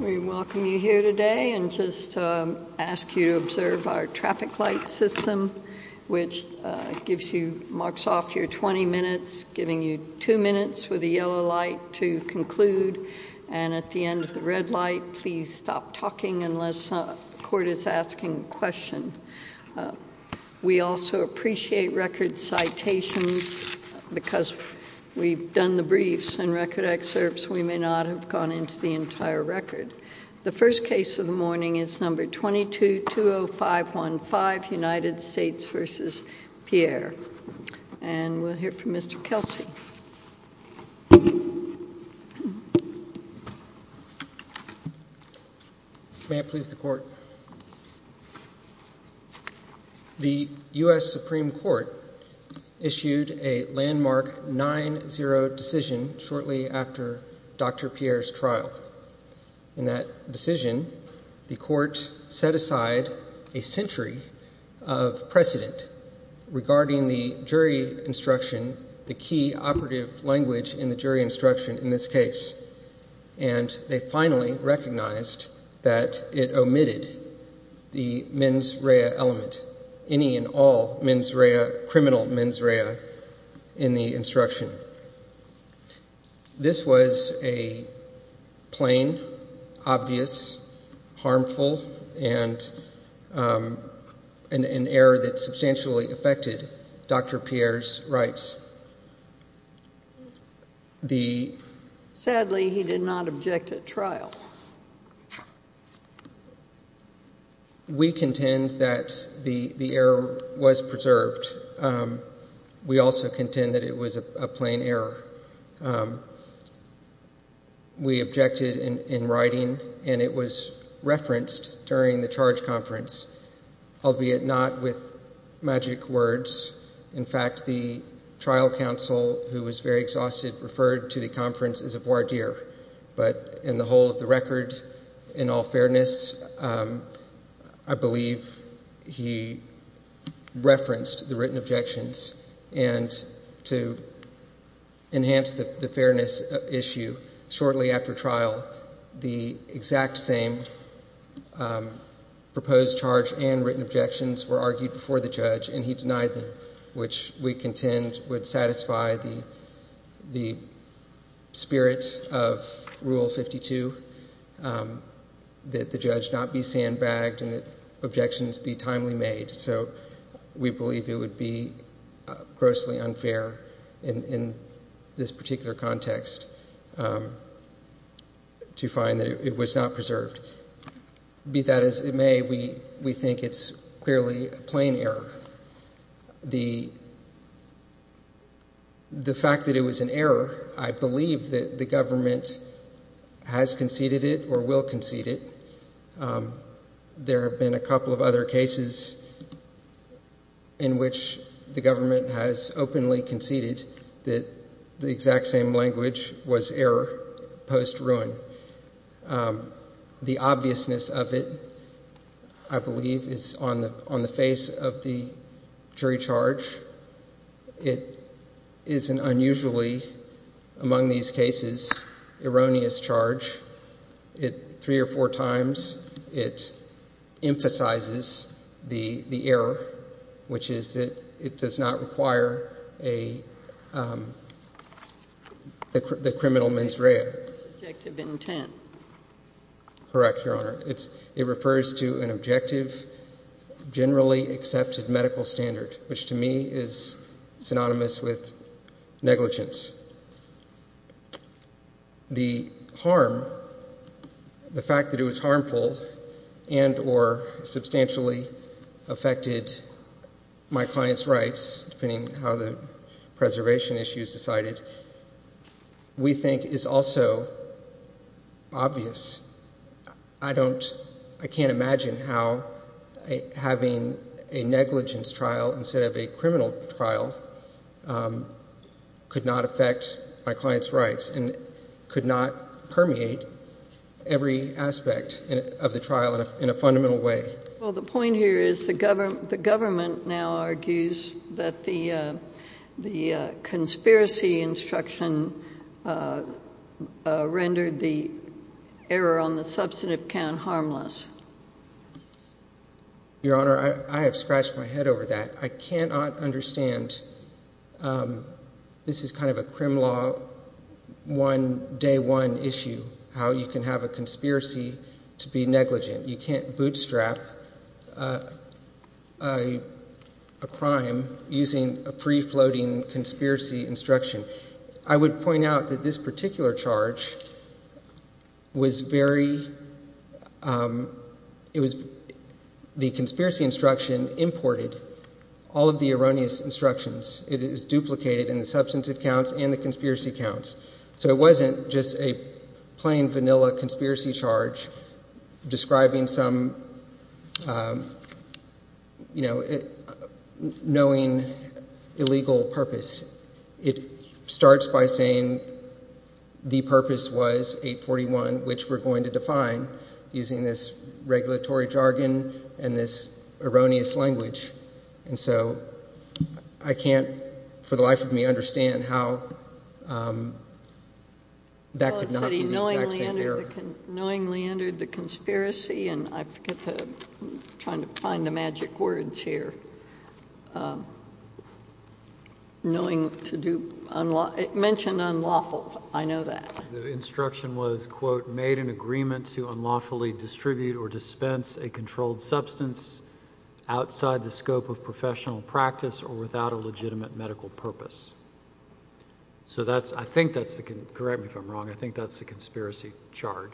We welcome you here today and just ask you to observe our traffic light system, which gives you marks off your 20 minutes, giving you two minutes with a yellow light to conclude. And at the end of the red light, please stop talking unless a court is asking a question. We also appreciate record citations because we've done the briefs and record excerpts. We may not have gone into the entire record. The first case of the morning is No. 22-20515, United States v. Pierre. And we'll hear from Mr. Kelsey. May it please the Court. The U.S. Supreme Court issued a landmark 9-0 decision shortly after Dr. Pierre's trial. In that decision, the Court set aside a century of precedent regarding the jury instruction, the key operative language in the jury instruction in this case. And they finally recognized that it omitted the mens rea element, any and all mens rea, criminal mens rea, in the instruction. This was a plain, obvious, harmful, and an error that substantially affected Dr. Pierre's rights. Sadly, he did not object at trial. We contend that the error was preserved. We also contend that it was a plain error. We objected in writing, and it was referenced during the charge conference, albeit not with magic words. In fact, the trial counsel, who was very exhausted, referred to the conference as a voir dire. But in the whole of the record, in all fairness, I believe he referenced the written objections. And to enhance the fairness issue, shortly after trial, the exact same proposed charge and written objections were argued before the judge, and he denied them, which we contend would satisfy the spirit of Rule 52, that the judge not be sandbagged and that objections be timely made. So we believe it would be grossly unfair in this particular context to find that it was not preserved. Be that as it may, we think it's clearly a plain error. The fact that it was an error, I believe that the government has conceded it or will concede it. There have been a couple of other cases in which the government has openly conceded that the exact same language was error post-ruin. The obviousness of it, I believe, is on the face of the jury charge. It is an unusually, among these cases, erroneous charge. It three or four times, it emphasizes the error, which is that it does not require the criminal mens rea. Objective intent. Correct, Your Honor. It refers to an objective, generally accepted medical standard, which to me is synonymous with negligence. The harm, the fact that it was harmful and or substantially affected my client's rights, depending on how the preservation issue is decided, we think is also obvious. I can't imagine how having a negligence trial instead of a criminal trial could not affect my client's rights and could not permeate every aspect of the trial in a fundamental way. Well, the point here is the government now argues that the conspiracy instruction rendered the error on the substantive count harmless. Your Honor, I have scratched my head over that. I cannot understand. This is kind of a crim law one day one issue, how you can have a conspiracy to be negligent. You can't bootstrap a crime using a pre-floating conspiracy instruction. I would point out that this particular charge was very, it was the conspiracy instruction imported all of the erroneous instructions. It is duplicated in the substantive counts and the conspiracy counts. It wasn't just a plain vanilla conspiracy charge describing some, you know, knowing illegal purpose. It starts by saying the purpose was 841, which we're going to define using this regulatory jargon and this erroneous language. And so I can't, for the life of me, understand how that could not be the exact same error. Well, it said he knowingly entered the conspiracy and I forget the, I'm trying to find the magic words here. Knowing to do, it mentioned unlawful. I know that. The instruction was, quote, made an agreement to unlawfully distribute or dispense a controlled substance outside the scope of professional practice or without a legitimate medical purpose. So that's, I think that's the, correct me if I'm wrong, I think that's the conspiracy charge.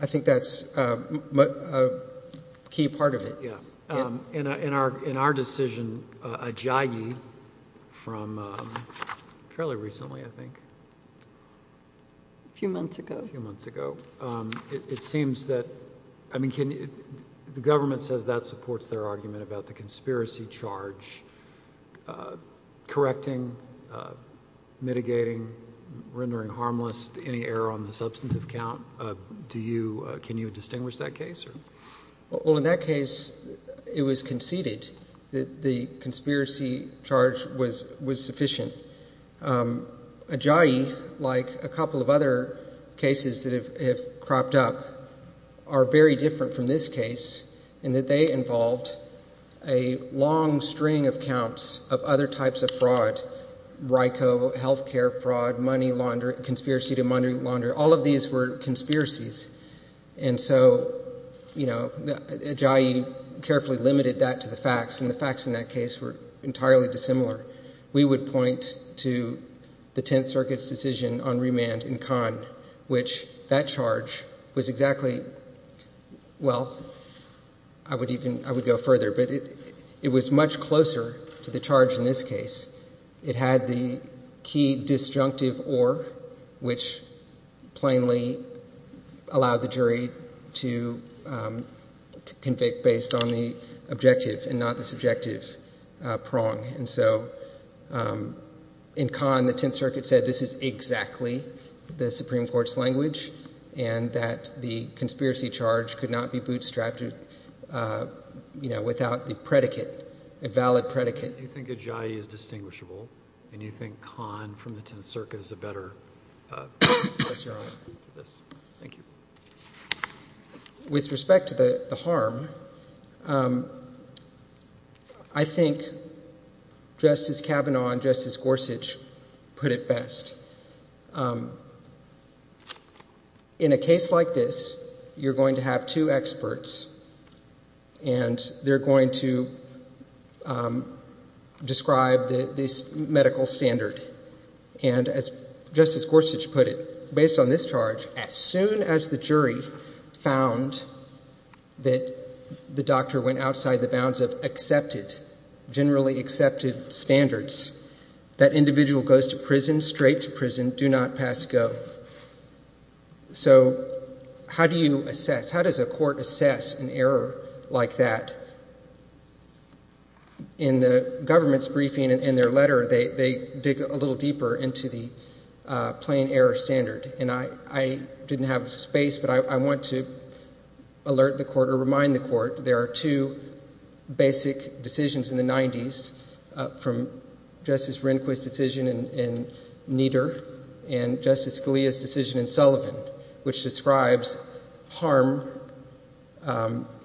I think that's a key part of it. Yeah. In our, in our decision, Ajayi from fairly recently, I think, a few months ago, it seems that, I mean, can you, the government says that supports their argument about the conspiracy charge, correcting, mitigating, rendering harmless, any error on the substantive count. Do you, can you distinguish that case or? Well, in that case, it was conceded that the conspiracy charge was, was sufficient. Ajayi, like a couple of other cases that have cropped up, are very different from this case in that they involved a long string of counts of other types of fraud, RICO, health care fraud, money laundering, conspiracy to money laundering, all of these were conspiracies. And so, you know, Ajayi carefully limited that to the facts and the facts in that case were entirely dissimilar. We would point to the Tenth Circuit's decision on remand in Cannes, which that charge was exactly, well, I would even, I would go further, but it, it was much closer to the charge in this case. It had the key disjunctive or, which plainly allowed the jury to convict based on the objective and not the subjective prong. And so, in Cannes, the Tenth Circuit said this is exactly the Supreme Court's language and that the conspiracy charge could not be bootstrapped, you know, without the predicate, a valid predicate. Do you think Ajayi is distinguishable and you think Cannes from the Tenth Circuit is a better? Yes, Your Honor. Thank you. With respect to the harm, I think Justice Kavanaugh and Justice Gorsuch put it best. In a case like this, you're going to have two experts and they're going to describe the, this medical standard. And as Justice Gorsuch put it, based on this charge, as soon as the jury found that the doctor went outside the bounds of accepted, generally accepted standards, that individual goes to prison, straight to prison, do not pass go. So how do you assess, how does a court assess an error like that? In the government's briefing in their letter, they dig a little deeper into the plain error standard. And I didn't have space, but I want to alert the court or remind the court there are two basic decisions in the 90s from Justice Rehnquist's decision in Nieder and Justice Scalia's decision in Sullivan, which describes harm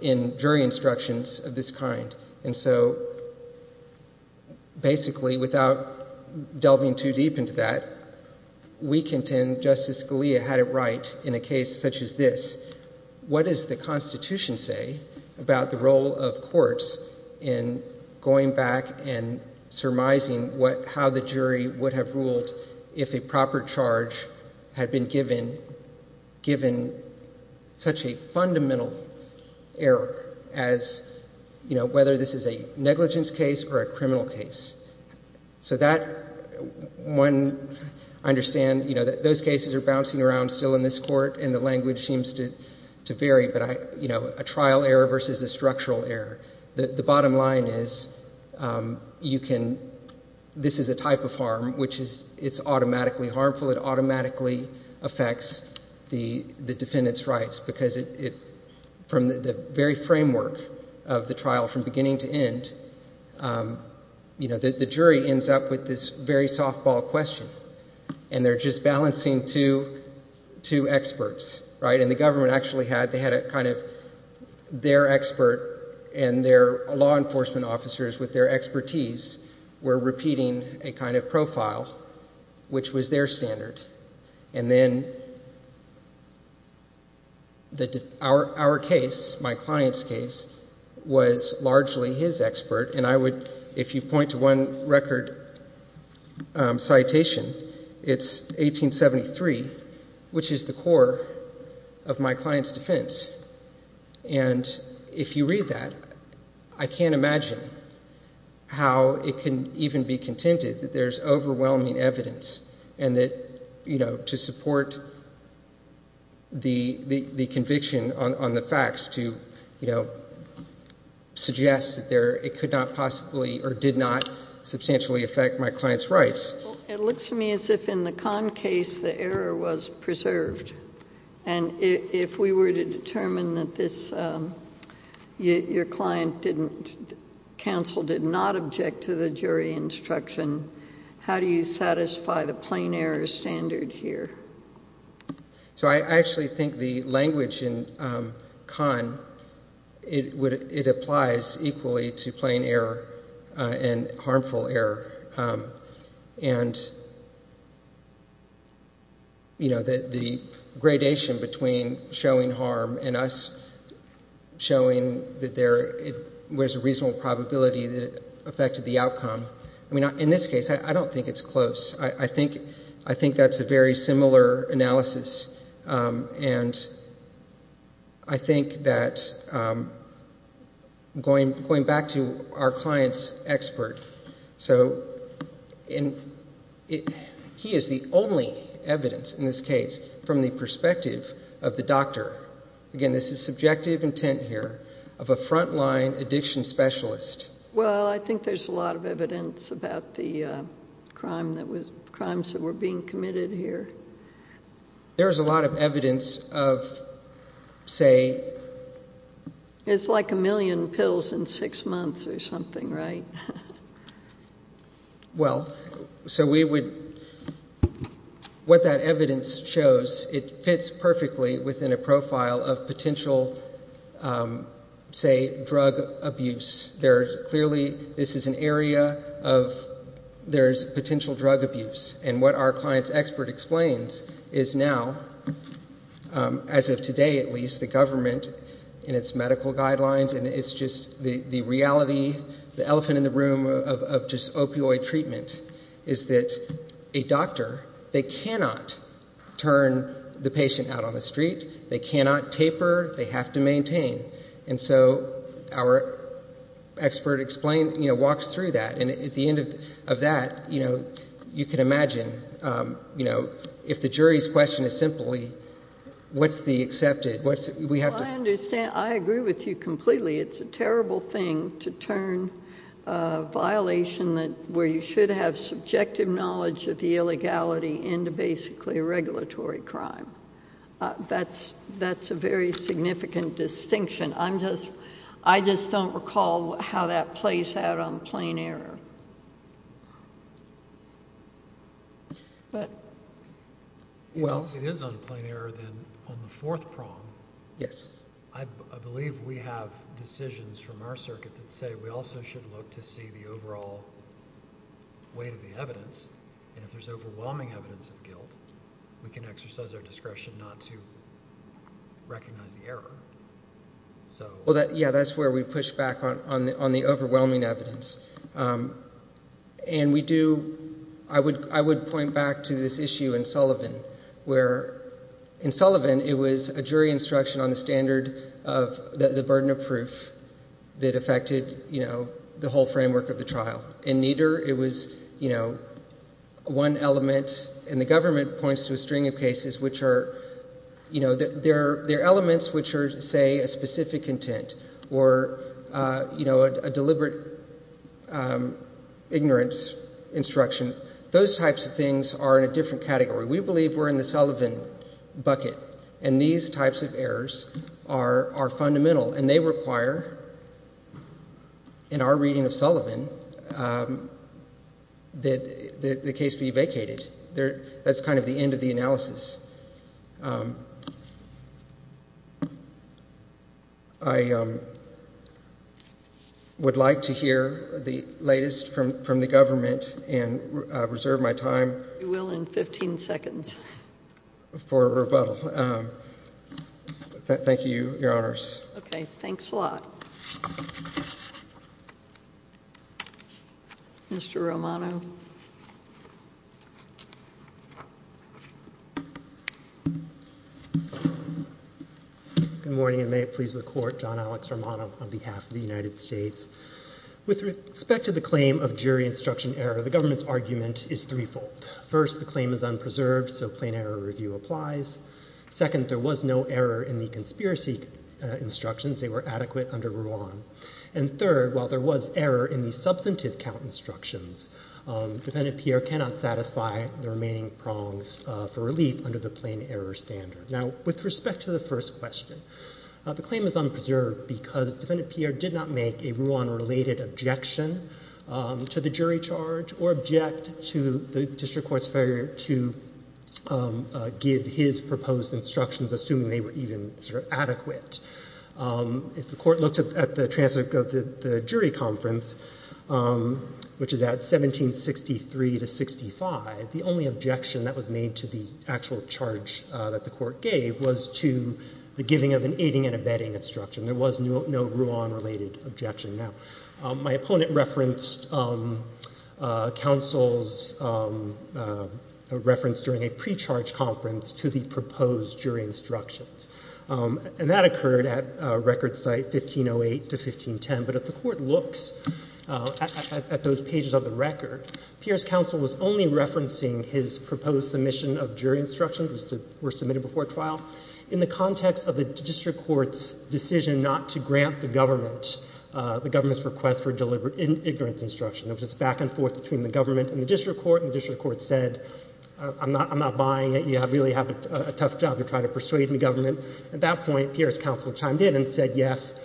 in jury instructions of this kind. And so basically, without delving too deep into that, we contend Justice Scalia had it right in a case such as this. What does the Constitution say about the role of courts in going back and surmising what, how the jury would have ruled if a proper charge had been given, given such a fundamental error as, you know, whether this is a negligence case or a criminal case. So that, one, I understand, you know, those cases are bouncing around still in this court and the language seems to vary, but I, you know, a trial error versus a structural error. The bottom line is you can, this is a type of harm, which is, it's automatically harmful. It automatically affects the defendant's rights because it, from the very framework of the trial from beginning to end, you know, the jury ends up with this very softball question and they're just balancing two experts, right, and the government actually had, they had a kind of, their expert and their law enforcement officers with their expertise were repeating a kind of profile, which was their standard. And then our case, my client's case, was largely his expert and I would, if you point to one And if you read that, I can't imagine how it can even be contended that there's overwhelming evidence and that, you know, to support the conviction on the facts to, you know, suggest that there, it could not possibly or did not substantially affect my client's rights. It looks to me as if in the Kahn case the error was preserved. And if we were to determine that this, your client didn't, counsel did not object to the jury instruction, how do you satisfy the plain error standard here? So I actually think the language in Kahn, it would, it applies equally to plain error and harmful error. And you know, the gradation between showing harm and us showing that there, there's a reasonable probability that it affected the outcome, I mean, in this case, I don't think it's close. I think, I think that's a very similar analysis. And I think that going, going back to our client's expert. So he is the only evidence in this case from the perspective of the doctor. Again, this is subjective intent here of a frontline addiction specialist. Well, I think there's a lot of evidence about the crime that was, crimes that were being committed here. There's a lot of evidence of, say, it's like a million pills in six months or something, right? Well, so we would, what that evidence shows, it fits perfectly within a profile of potential, say, drug abuse. There clearly, this is an area of, there's potential drug abuse and what our client's expert explains is now, as of today at least, the government and its medical guidelines and it's just the reality, the elephant in the room of just opioid treatment is that a doctor, they cannot turn the patient out on the street. They cannot taper, they have to maintain. And so our expert explained, you know, walks through that and at the end of that, you know, you can imagine, you know, if the jury's question is simply, what's the accepted, what's, we have to- I understand. I agree with you completely. It's a terrible thing to turn a violation that, where you should have subjective knowledge of the illegality into basically a regulatory crime. That's a very significant distinction. I'm just, I just don't recall how that plays out on plain error, but- Well- If it is on plain error, then on the fourth prong, I believe we have decisions from our circuit that say we also should look to see the overall weight of the evidence, and if there's overwhelming evidence of guilt, we can exercise our discretion not to recognize the error. So- Well, yeah, that's where we push back on the overwhelming evidence. And we do, I would point back to this issue in Sullivan, where in Sullivan, it was a jury instruction on the standard of the burden of proof that affected, you know, the whole framework of the trial. In Nieder, it was, you know, one element, and the government points to a string of cases which are, you know, they're elements which are, say, a specific intent or, you know, a deliberate ignorance instruction. Those types of things are in a different category. We believe we're in the Sullivan bucket, and these types of errors are fundamental, and they require, in our reading of Sullivan, that the case be vacated. That's kind of the end of the analysis. I would like to hear the latest from the government and reserve my time- You will in 15 seconds. For rebuttal. Thank you, Your Honors. Okay. Thanks a lot. Mr. Romano. Good morning, and may it please the Court. John Alex Romano on behalf of the United States. With respect to the claim of jury instruction error, the government's argument is threefold. First, the claim is unpreserved, so plain error review applies. Second, there was no error in the conspiracy instructions. They were adequate under Ruan. And third, while there was error in the substantive count instructions, Defendant Pierre cannot satisfy the remaining prongs for relief under the plain error standard. Now, with respect to the first question, the claim is unpreserved because Defendant Pierre did not make a Ruan-related objection to the jury charge or object to the district court's failure to give his proposed instructions, assuming they were even sort of adequate. If the court looks at the transcript of the jury conference, which is at 1763 to 65, the only objection that was made to the actual charge that the court gave was to the giving of an aiding and abetting instruction. There was no Ruan-related objection. Now, my opponent referenced counsel's reference during a pre-charge conference to the proposed jury instructions. And that occurred at record site 1508 to 1510. But if the court looks at those pages of the record, Pierre's counsel was only referencing his proposed submission of jury instructions that were submitted before trial in the context of the district court's decision not to grant the government, the government's request for deliberate ignorance instruction. It was just back and forth between the government and the district court. And the district court said, I'm not buying it. We really have a tough job to try to persuade the government. At that point, Pierre's counsel chimed in and said, yes,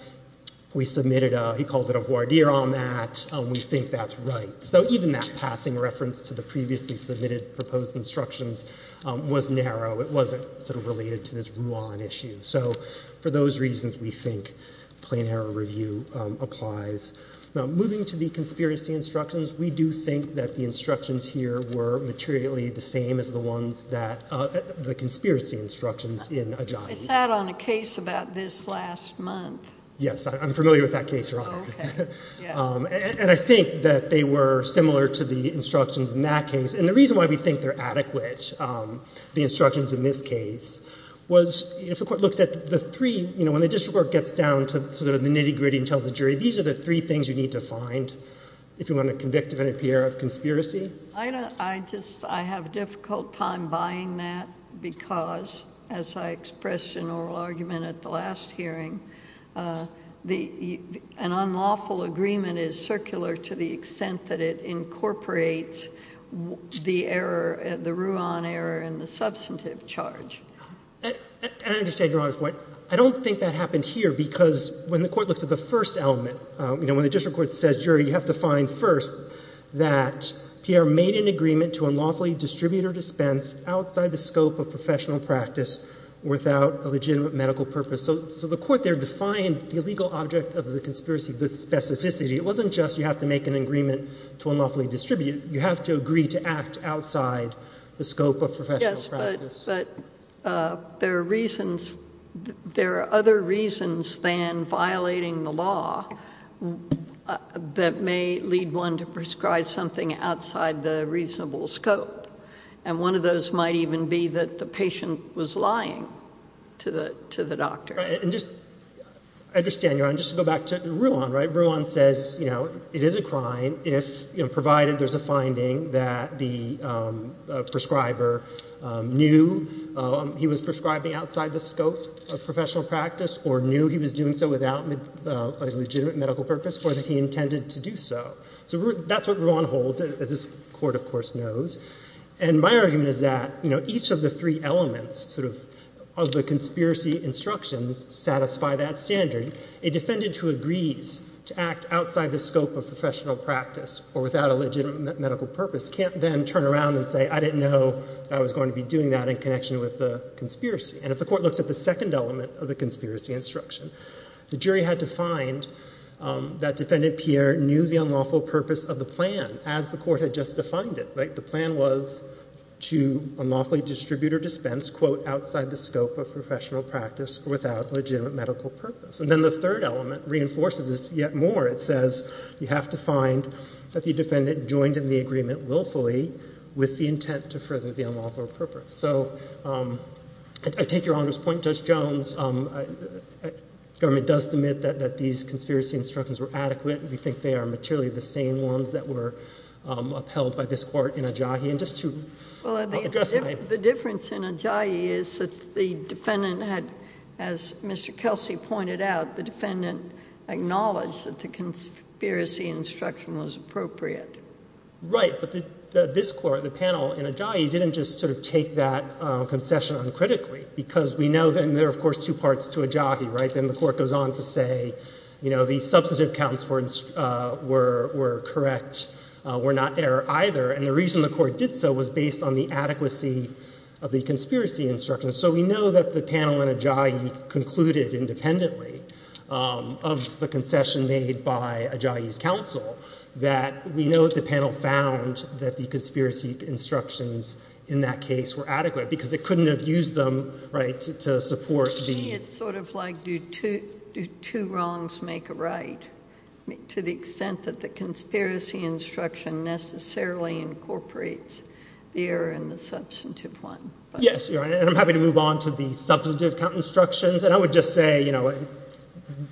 we submitted a, he called it a voir dire on that. We think that's right. So even that passing reference to the previously submitted proposed instructions was narrow. It wasn't sort of related to this Ruan issue. So for those reasons, we think plain error review applies. Now, moving to the conspiracy instructions, we do think that the instructions here were materially the same as the ones that, the conspiracy instructions in Ajayi. It sat on a case about this last month. Yes. I'm familiar with that case, Your Honor. Okay. Yeah. And I think that they were similar to the instructions in that case. And the reason why we think they're adequate, the instructions in this case, was if the court looks at the three, you know, when the district court gets down to sort of the nitty-gritty and tells the jury, these are the three things you need to find if you want to convict a defendant, Pierre, of conspiracy. I don't, I just, I have a difficult time buying that because, as I expressed in oral argument at the last hearing, the, an unlawful agreement is circular to the extent that it incorporates the error, the Ruan error and the substantive charge. And I understand Your Honor's point. I don't think that happened here because when the court looks at the first element, you know, when the district court says, jury, you have to find first that Pierre made an agreement to unlawfully distribute or dispense outside the scope of professional practice without a legitimate medical purpose. So the court there defined the legal object of the conspiracy, the specificity. It wasn't just you have to make an agreement to unlawfully distribute. You have to agree to act outside the scope of professional practice. Yes. But there are reasons, there are other reasons than violating the law that may lead one to prescribe something outside the reasonable scope. And one of those might even be that the patient was lying to the, to the doctor. And just, I understand Your Honor, just to go back to Ruan, right, Ruan says, you know, it is a crime if, you know, provided there's a finding that the prescriber knew he was prescribing outside the scope of professional practice or knew he was doing so without a legitimate medical purpose or that he intended to do so. So that's what Ruan holds, as this court, of course, knows. And my argument is that, you know, each of the three elements, sort of, of the conspiracy instructions satisfy that standard. A defendant who agrees to act outside the scope of professional practice or without a legitimate medical purpose can't then turn around and say, I didn't know I was going to be doing that in connection with the conspiracy. And if the court looks at the second element of the conspiracy instruction, the jury had to find that Defendant Pierre knew the unlawful purpose of the plan as the court had just defined it, right? And then the third element reinforces this yet more. It says you have to find that the defendant joined in the agreement willfully with the intent to further the unlawful purpose. So I take Your Honor's point, Judge Jones, government does admit that these conspiracy instructions were adequate. We think they are materially the same ones that were upheld by this court in Adjahi. And just to address my— Well, the difference in Adjahi is that the defendant had, as Mr. Kelsey pointed out, the defendant acknowledged that the conspiracy instruction was appropriate. Right. But this court, the panel in Adjahi, didn't just, sort of, take that concession uncritically because we know then there are, of course, two parts to Adjahi, right? Then the court goes on to say, you know, the substantive counts were correct, were not error either. And the reason the court did so was based on the adequacy of the conspiracy instructions. So we know that the panel in Adjahi concluded independently of the concession made by Adjahi's counsel that we know that the panel found that the conspiracy instructions in that case were adequate because it couldn't have used them, right, to support the— To me, it's, sort of, like, do two wrongs make a right, to the extent that the conspiracy instruction necessarily incorporates the error in the substantive one. Yes, Your Honor. And I'm happy to move on to the substantive count instructions. And I would just say, you know,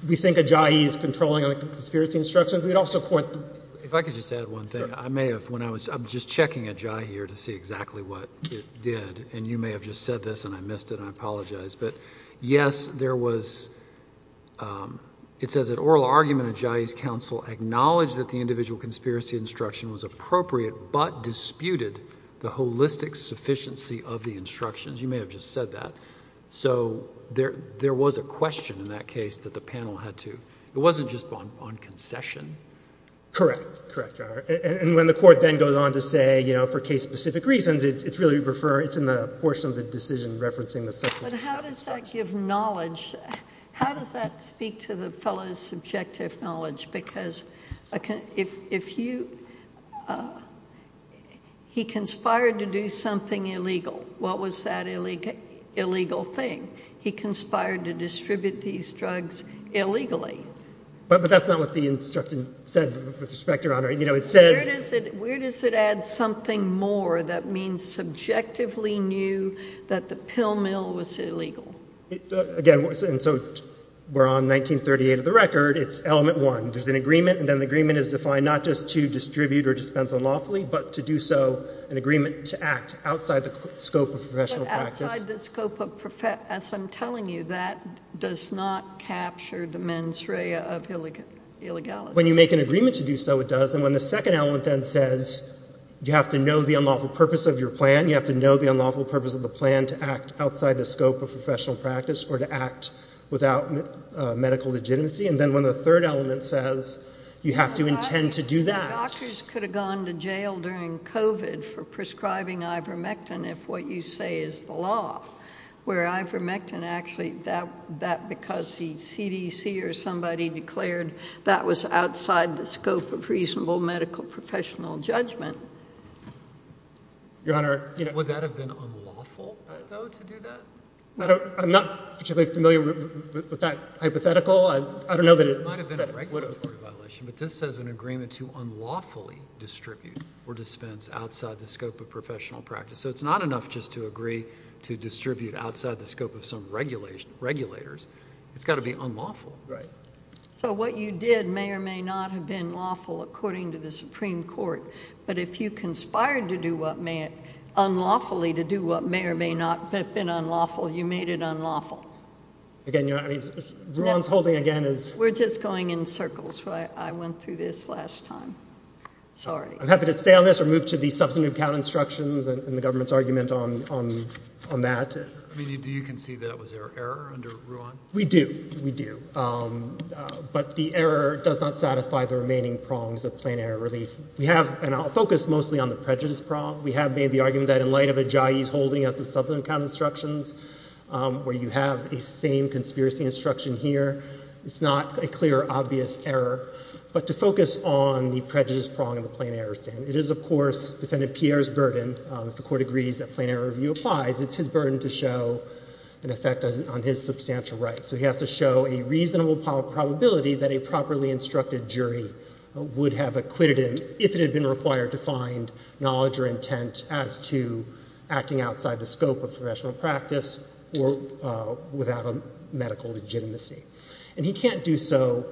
we think Adjahi is controlling the conspiracy instructions. We'd also point— If I could just add one thing. Sure. I may have, when I was—I'm just checking Adjahi here to see exactly what it did. And you may have just said this, and I missed it, and I apologize, but, yes, there was, it says that oral argument of Adjahi's counsel acknowledged that the individual conspiracy instruction was appropriate but disputed the holistic sufficiency of the instructions. You may have just said that. So there was a question in that case that the panel had to—it wasn't just on concession. Correct. Correct, Your Honor. And when the court then goes on to say, you know, for case-specific reasons, it's really referred—it's in the portion of the decision referencing the substantive count instructions. But how does that give knowledge? How does that speak to the fellow's subjective knowledge? Because if you—he conspired to do something illegal. What was that illegal thing? He conspired to distribute these drugs illegally. But that's not what the instruction said, with respect, Your Honor. You know, it says— Where does it add something more that means subjectively knew that the pill mill was illegal? Again, and so we're on 1938 of the record. It's element one. There's an agreement, and then the agreement is defined not just to distribute or dispense unlawfully but to do so—an agreement to act outside the scope of professional practice. But outside the scope of—as I'm telling you, that does not capture the mens rea of illegality. When you make an agreement to do so, it does. And when the second element then says you have to know the unlawful purpose of your plan, you have to know the unlawful purpose of the plan to act outside the scope of professional practice or to act without medical legitimacy. And then when the third element says you have to intend to do that— Doctors could have gone to jail during COVID for prescribing ivermectin if what you say is the law, where ivermectin actually—that because the CDC or somebody declared that was outside the scope of reasonable medical professional judgment. Your Honor— Would that have been unlawful, though, to do that? I'm not particularly familiar with that hypothetical. I don't know that it— It might have been a regulatory violation, but this says an agreement to unlawfully distribute or dispense outside the scope of professional practice. So it's not enough just to agree to distribute outside the scope of some regulators. It's got to be unlawful. Right. So what you did may or may not have been lawful according to the Supreme Court, but if you made it unlawful, you made it unlawful. Again, Your Honor, I mean, Ruan's holding again is— We're just going in circles. I went through this last time. Sorry. I'm happy to stay on this or move to the substantive count instructions and the government's argument on that. I mean, do you concede that it was error under Ruan? We do. We do. But the error does not satisfy the remaining prongs of plain error relief. We have—and I'll focus mostly on the prejudice prong. We have made the argument that in light of Ajayi's holding of the substantive count instructions, where you have the same conspiracy instruction here, it's not a clear, obvious error. But to focus on the prejudice prong of the plain error stand, it is, of course, Defendant Pierre's burden. If the Court agrees that plain error review applies, it's his burden to show an effect on his substantial rights. So he has to show a reasonable probability that a properly instructed jury would have acquitted him if it had been required to find knowledge or intent as to acting outside the scope of professional practice or without a medical legitimacy. And he can't do so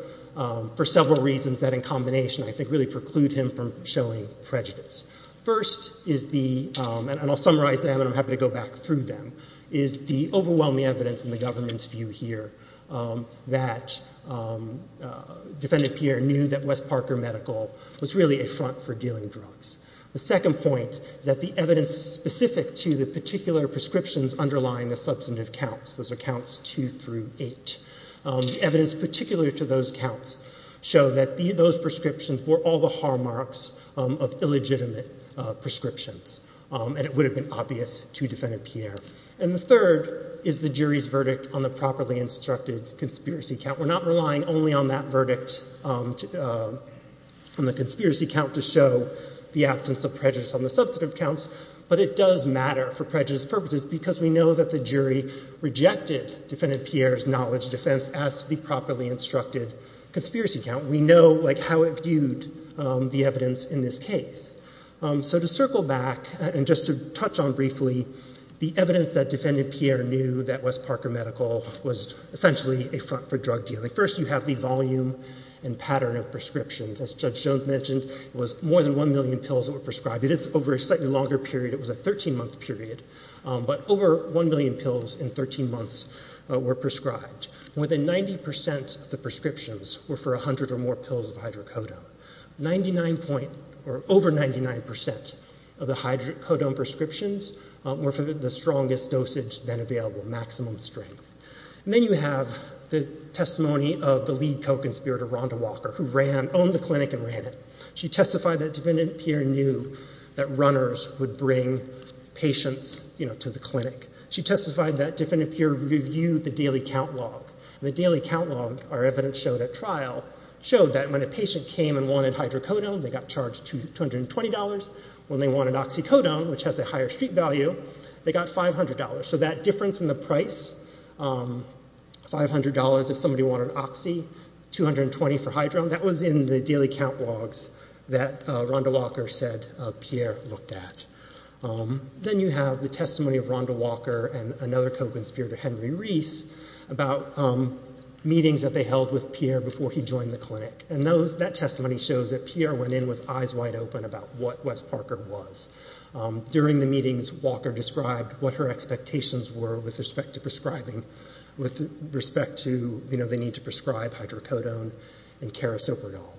for several reasons that in combination, I think, really preclude him from showing prejudice. First is the—and I'll summarize them and I'm happy to go back through them—is the overwhelming evidence in the government's view here that Defendant Pierre knew that the S. Parker Medical was really a front for dealing drugs. The second point is that the evidence specific to the particular prescriptions underlying the substantive counts—those are counts 2 through 8—the evidence particular to those counts show that those prescriptions bore all the hallmarks of illegitimate prescriptions, and it would have been obvious to Defendant Pierre. And the third is the jury's verdict on the properly instructed conspiracy count. We're not relying only on that verdict on the conspiracy count to show the absence of prejudice on the substantive counts, but it does matter for prejudice purposes because we know that the jury rejected Defendant Pierre's knowledge defense as to the properly instructed conspiracy count. We know, like, how it viewed the evidence in this case. So to circle back and just to touch on briefly, the evidence that Defendant Pierre knew that for drug dealing. First, you have the volume and pattern of prescriptions. As Judge Jones mentioned, it was more than 1 million pills that were prescribed. It is over a slightly longer period—it was a 13-month period—but over 1 million pills in 13 months were prescribed. More than 90 percent of the prescriptions were for 100 or more pills of hydrocodone. Over 99 percent of the hydrocodone prescriptions were for the strongest dosage then available—maximum strength. Then you have the testimony of the lead co-conspirator, Rhonda Walker, who ran—owned the clinic and ran it. She testified that Defendant Pierre knew that runners would bring patients to the clinic. She testified that Defendant Pierre reviewed the daily count log. The daily count log, our evidence showed at trial, showed that when a patient came and wanted hydrocodone, they got charged $220. When they wanted oxycodone, which has a higher street value, they got $500. So that difference in the price—$500 if somebody wanted oxy, $220 for hydro—that was in the daily count logs that Rhonda Walker said Pierre looked at. Then you have the testimony of Rhonda Walker and another co-conspirator, Henry Reese, about meetings that they held with Pierre before he joined the clinic. That testimony shows that Pierre went in with eyes wide open about what Wes Parker was. During the meetings, Walker described what her expectations were with respect to prescribing—with respect to, you know, the need to prescribe hydrocodone and Kerasopridol.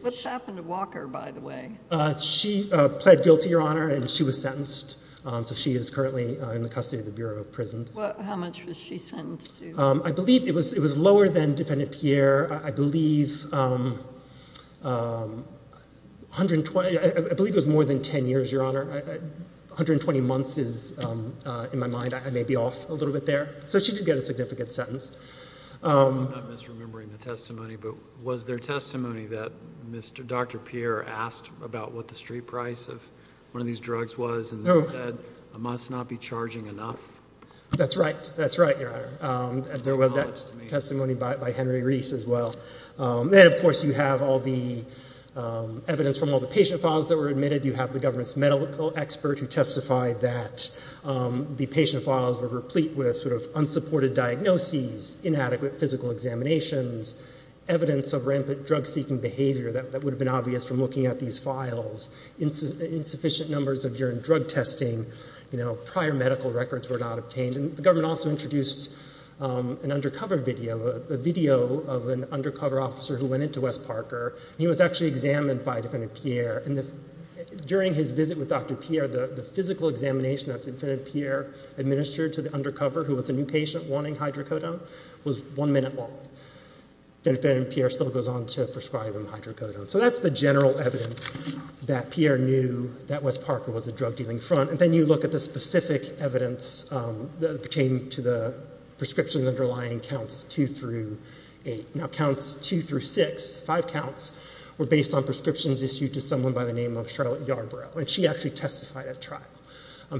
What happened to Walker, by the way? She pled guilty, Your Honor, and she was sentenced. So she is currently in the custody of the Bureau of Prisons. How much was she sentenced to? I believe it was—it was lower than Defendant Pierre. I believe 120—I believe it was more than 10 years, Your Honor. 120 months is, in my mind, I may be off a little bit there. So she did get a significant sentence. I'm not misremembering the testimony, but was there testimony that Dr. Pierre asked about what the street price of one of these drugs was and said, I must not be charging enough? That's right. That's right, Your Honor. There was that testimony by Henry Reese as well. And, of course, you have all the evidence from all the patient files that were admitted. You have the government's medical expert who testified that the patient files were replete with sort of unsupported diagnoses, inadequate physical examinations, evidence of rampant drug-seeking behavior that would have been obvious from looking at these files, insufficient numbers of urine drug testing, you know, prior medical records were not obtained. And the government also introduced an undercover video, a video of an undercover officer who went into West Parker. And he was actually examined by Defendant Pierre. During his visit with Dr. Pierre, the physical examination that Defendant Pierre administered to the undercover, who was a new patient wanting hydrocodone, was one minute long. And Defendant Pierre still goes on to prescribe him hydrocodone. So that's the general evidence that Pierre knew that West Parker was a drug-dealing front. And then you look at the specific evidence pertaining to the prescriptions underlying counts two through eight. Now, counts two through six, five counts, were based on prescriptions issued to someone by the name of Charlotte Yarbrough, and she actually testified at trial.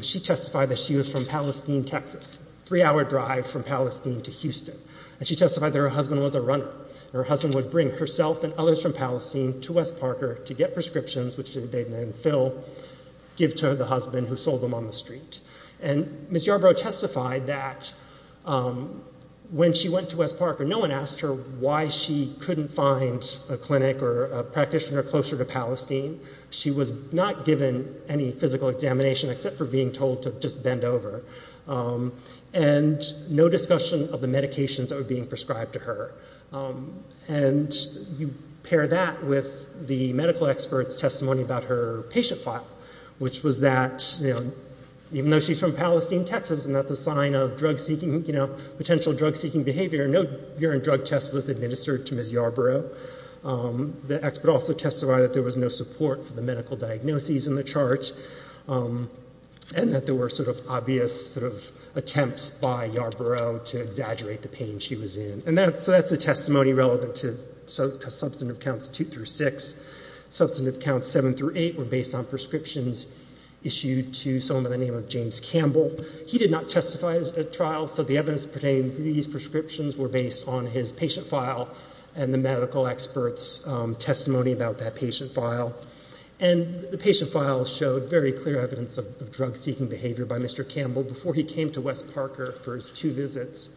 She testified that she was from Palestine, Texas, a three-hour drive from Palestine to Houston. And she testified that her husband was a runner, and her husband would bring herself and others from Palestine to West Parker to get prescriptions, which they named Phil, give to the husband who sold them on the street. And Ms. Yarbrough testified that when she went to West Parker, no one asked her why she couldn't find a clinic or a practitioner closer to Palestine. She was not given any physical examination except for being told to just bend over. And no discussion of the medications that were being prescribed to her. And you pair that with the medical expert's testimony about her patient file, which was that, you know, even though she's from Palestine, Texas, and that's a sign of drug-seeking, you know, potential drug-seeking behavior, no urine drug test was administered to Ms. Yarbrough. The expert also testified that there was no support for the medical diagnoses in the chart, and that there were sort of obvious sort of attempts by Yarbrough to exaggerate the pain she was in. And that's a testimony relevant to substantive counts two through six. Substantive counts seven through eight were based on prescriptions issued to someone by the name of James Campbell. He did not testify at trial, so the evidence pertaining to these prescriptions were based on his patient file and the medical expert's testimony about that patient file. And the patient file showed very clear evidence of drug-seeking behavior by Mr. Campbell before he came to West Parker for his two visits.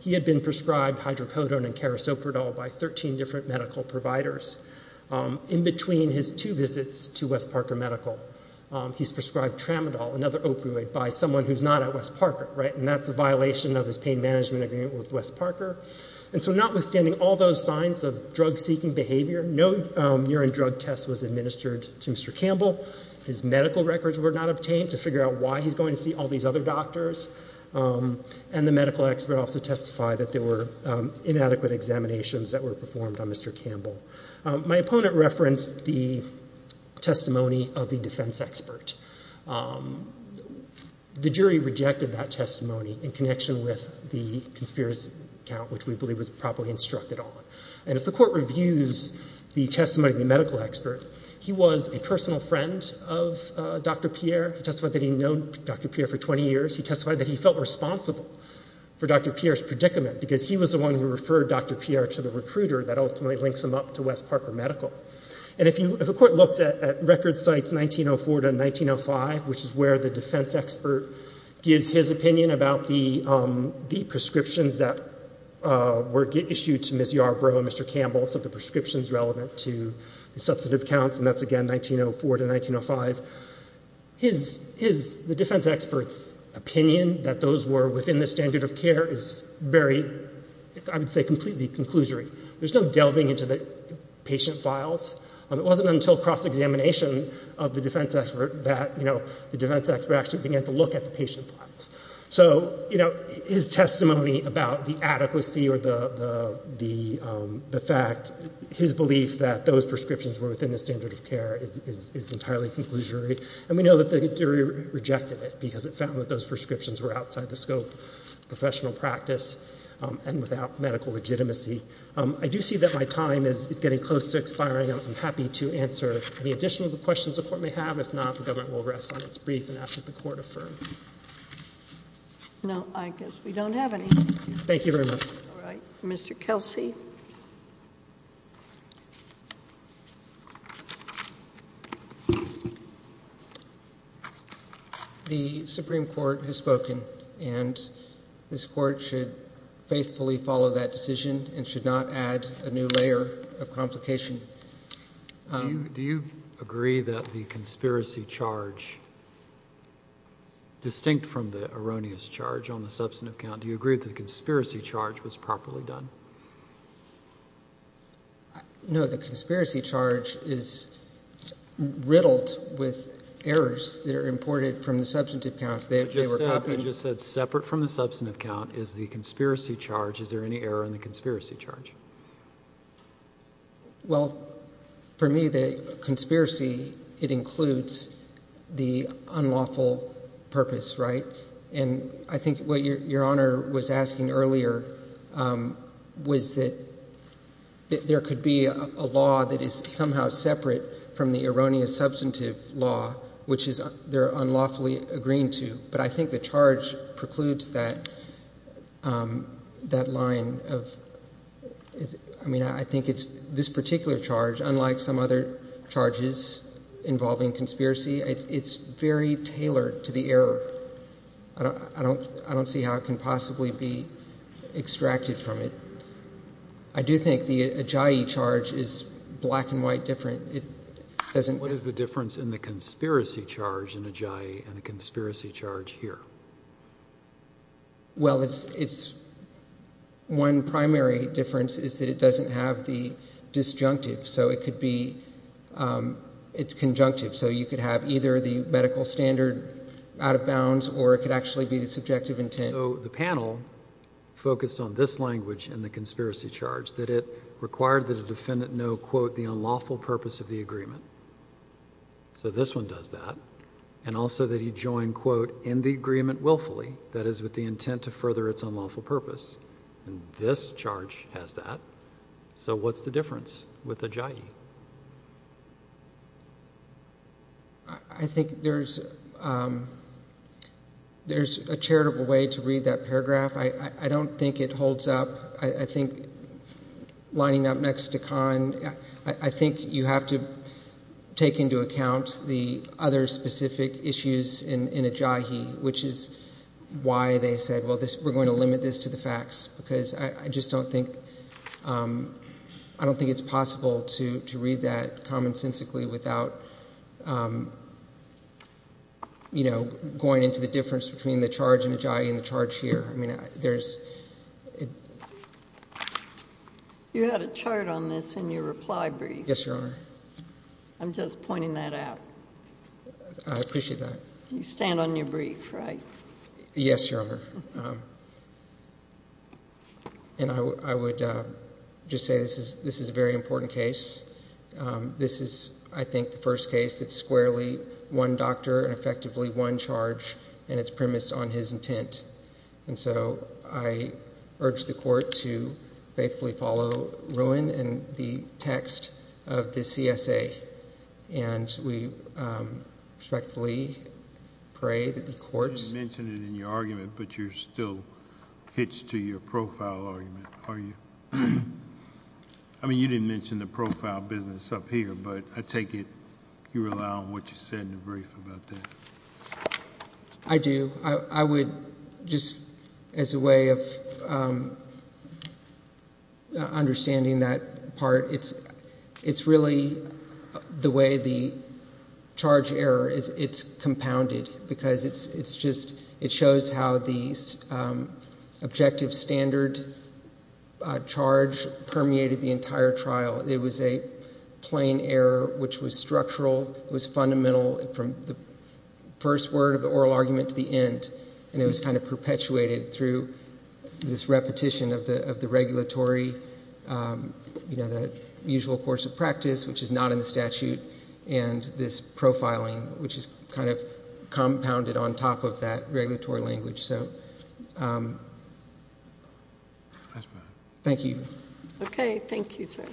He had been prescribed hydrocodone and carisoprodol by 13 different medical providers. In between his two visits to West Parker Medical, he's prescribed tramadol, another opioid, by someone who's not at West Parker, right? And that's a violation of his pain management agreement with West Parker. And so notwithstanding all those signs of drug-seeking behavior, no urine drug test was administered to Mr. Campbell. His medical records were not obtained to figure out why he's going to see all these other doctors. And the medical expert also testified that there were inadequate examinations that were performed on Mr. Campbell. My opponent referenced the testimony of the defense expert. The jury rejected that testimony in connection with the conspiracy count, which we believe was properly instructed on. And if the court reviews the testimony of the medical expert, he was a personal friend of Dr. Pierre. He testified that he'd known Dr. Pierre for 20 years. He testified that he felt responsible for Dr. Pierre's predicament because he was the one who referred Dr. Pierre to the recruiter that ultimately links him up to West Parker Medical. And if a court looks at record sites 1904 to 1905, which is where the defense expert gives his opinion about the prescriptions that were issued to Ms. Yarbrough and Mr. Campbell, so the prescriptions relevant to the substantive counts, and that's again 1904 to 1905, the defense expert's opinion that those were within the standard of care is very, I would say, completely conclusory. There's no delving into the patient files. It wasn't until cross-examination of the defense expert that the defense expert actually began to look at the patient files. So his testimony about the adequacy or the fact, his belief that those prescriptions were within the standard of care is entirely conclusory. And we know that the jury rejected it because it found that those prescriptions were outside the scope of professional practice and without medical legitimacy. I do see that my time is getting close to expiring. I'm happy to answer any additional questions the Court may have. If not, the government will rest on its brief and ask that the Court affirm. No, I guess we don't have any. Thank you very much. All right. Mr. Kelsey? The Supreme Court has spoken and this Court should faithfully follow that decision and should not add a new layer of complication. Do you agree that the conspiracy charge, distinct from the erroneous charge on the substantive count, do you agree that the conspiracy charge was properly done? No, the conspiracy charge is riddled with errors that are imported from the substantive count. I just said separate from the substantive count is the conspiracy charge. Is there any error in the conspiracy charge? Well, for me, the conspiracy, it includes the unlawful purpose, right? And I think what Your Honor was asking earlier was that there could be a law that is somehow separate from the erroneous substantive law, which they're unlawfully agreeing to, but I think the charge precludes that line of, I mean, I think it's this particular charge, unlike some other charges involving conspiracy, it's very tailored to the error. I don't see how it can possibly be extracted from it. I do think the Ajayi charge is black and white different. What is the difference in the conspiracy charge in Ajayi and the conspiracy charge here? Well, it's, one primary difference is that it doesn't have the disjunctive, so it could be, it's conjunctive, so you could have either the medical standard out of bounds or it could actually be the subjective intent. So the panel focused on this language in the conspiracy charge, that it required that a defendant know, quote, the unlawful purpose of the agreement. So this one does that. And also that he join, quote, in the agreement willfully, that is, with the intent to further its unlawful purpose, and this charge has that. So what's the difference with Ajayi? I think there's, there's a charitable way to read that paragraph. I don't think it holds up. I think lining up next to Khan, I think you have to take into account the other specific issues in Ajayi, which is why they said, well, this, we're going to limit this to the facts, because I just don't think, I don't think it's possible to read that commonsensically without, you know, going into the difference between the charge in Ajayi and the charge here. I mean, there's. You had a chart on this in your reply brief. Yes, Your Honor. I'm just pointing that out. I appreciate that. You stand on your brief, right? Yes, Your Honor. And I would just say this is a very important case. This is, I think, the first case that's squarely one doctor and effectively one charge, and it's premised on his intent. And so I urge the court to faithfully follow Rowan and the text of the CSA. And we respectfully pray that the court. You didn't mention it in your argument, but you're still hitched to your profile argument, are you? I mean, you didn't mention the profile business up here, but I take it you rely on what you said in the brief about that. I do. I would just, as a way of understanding that part, it's really the way the charge error, it's compounded because it shows how the objective standard charge permeated the entire trial. It was a plain error which was structural, it was fundamental from the first word of the oral argument to the end. And it was kind of perpetuated through this repetition of the regulatory, the usual course of practice, which is not in the statute, and this profiling, which is kind of compounded on top of that regulatory language. So, thank you. Okay, thank you, sir.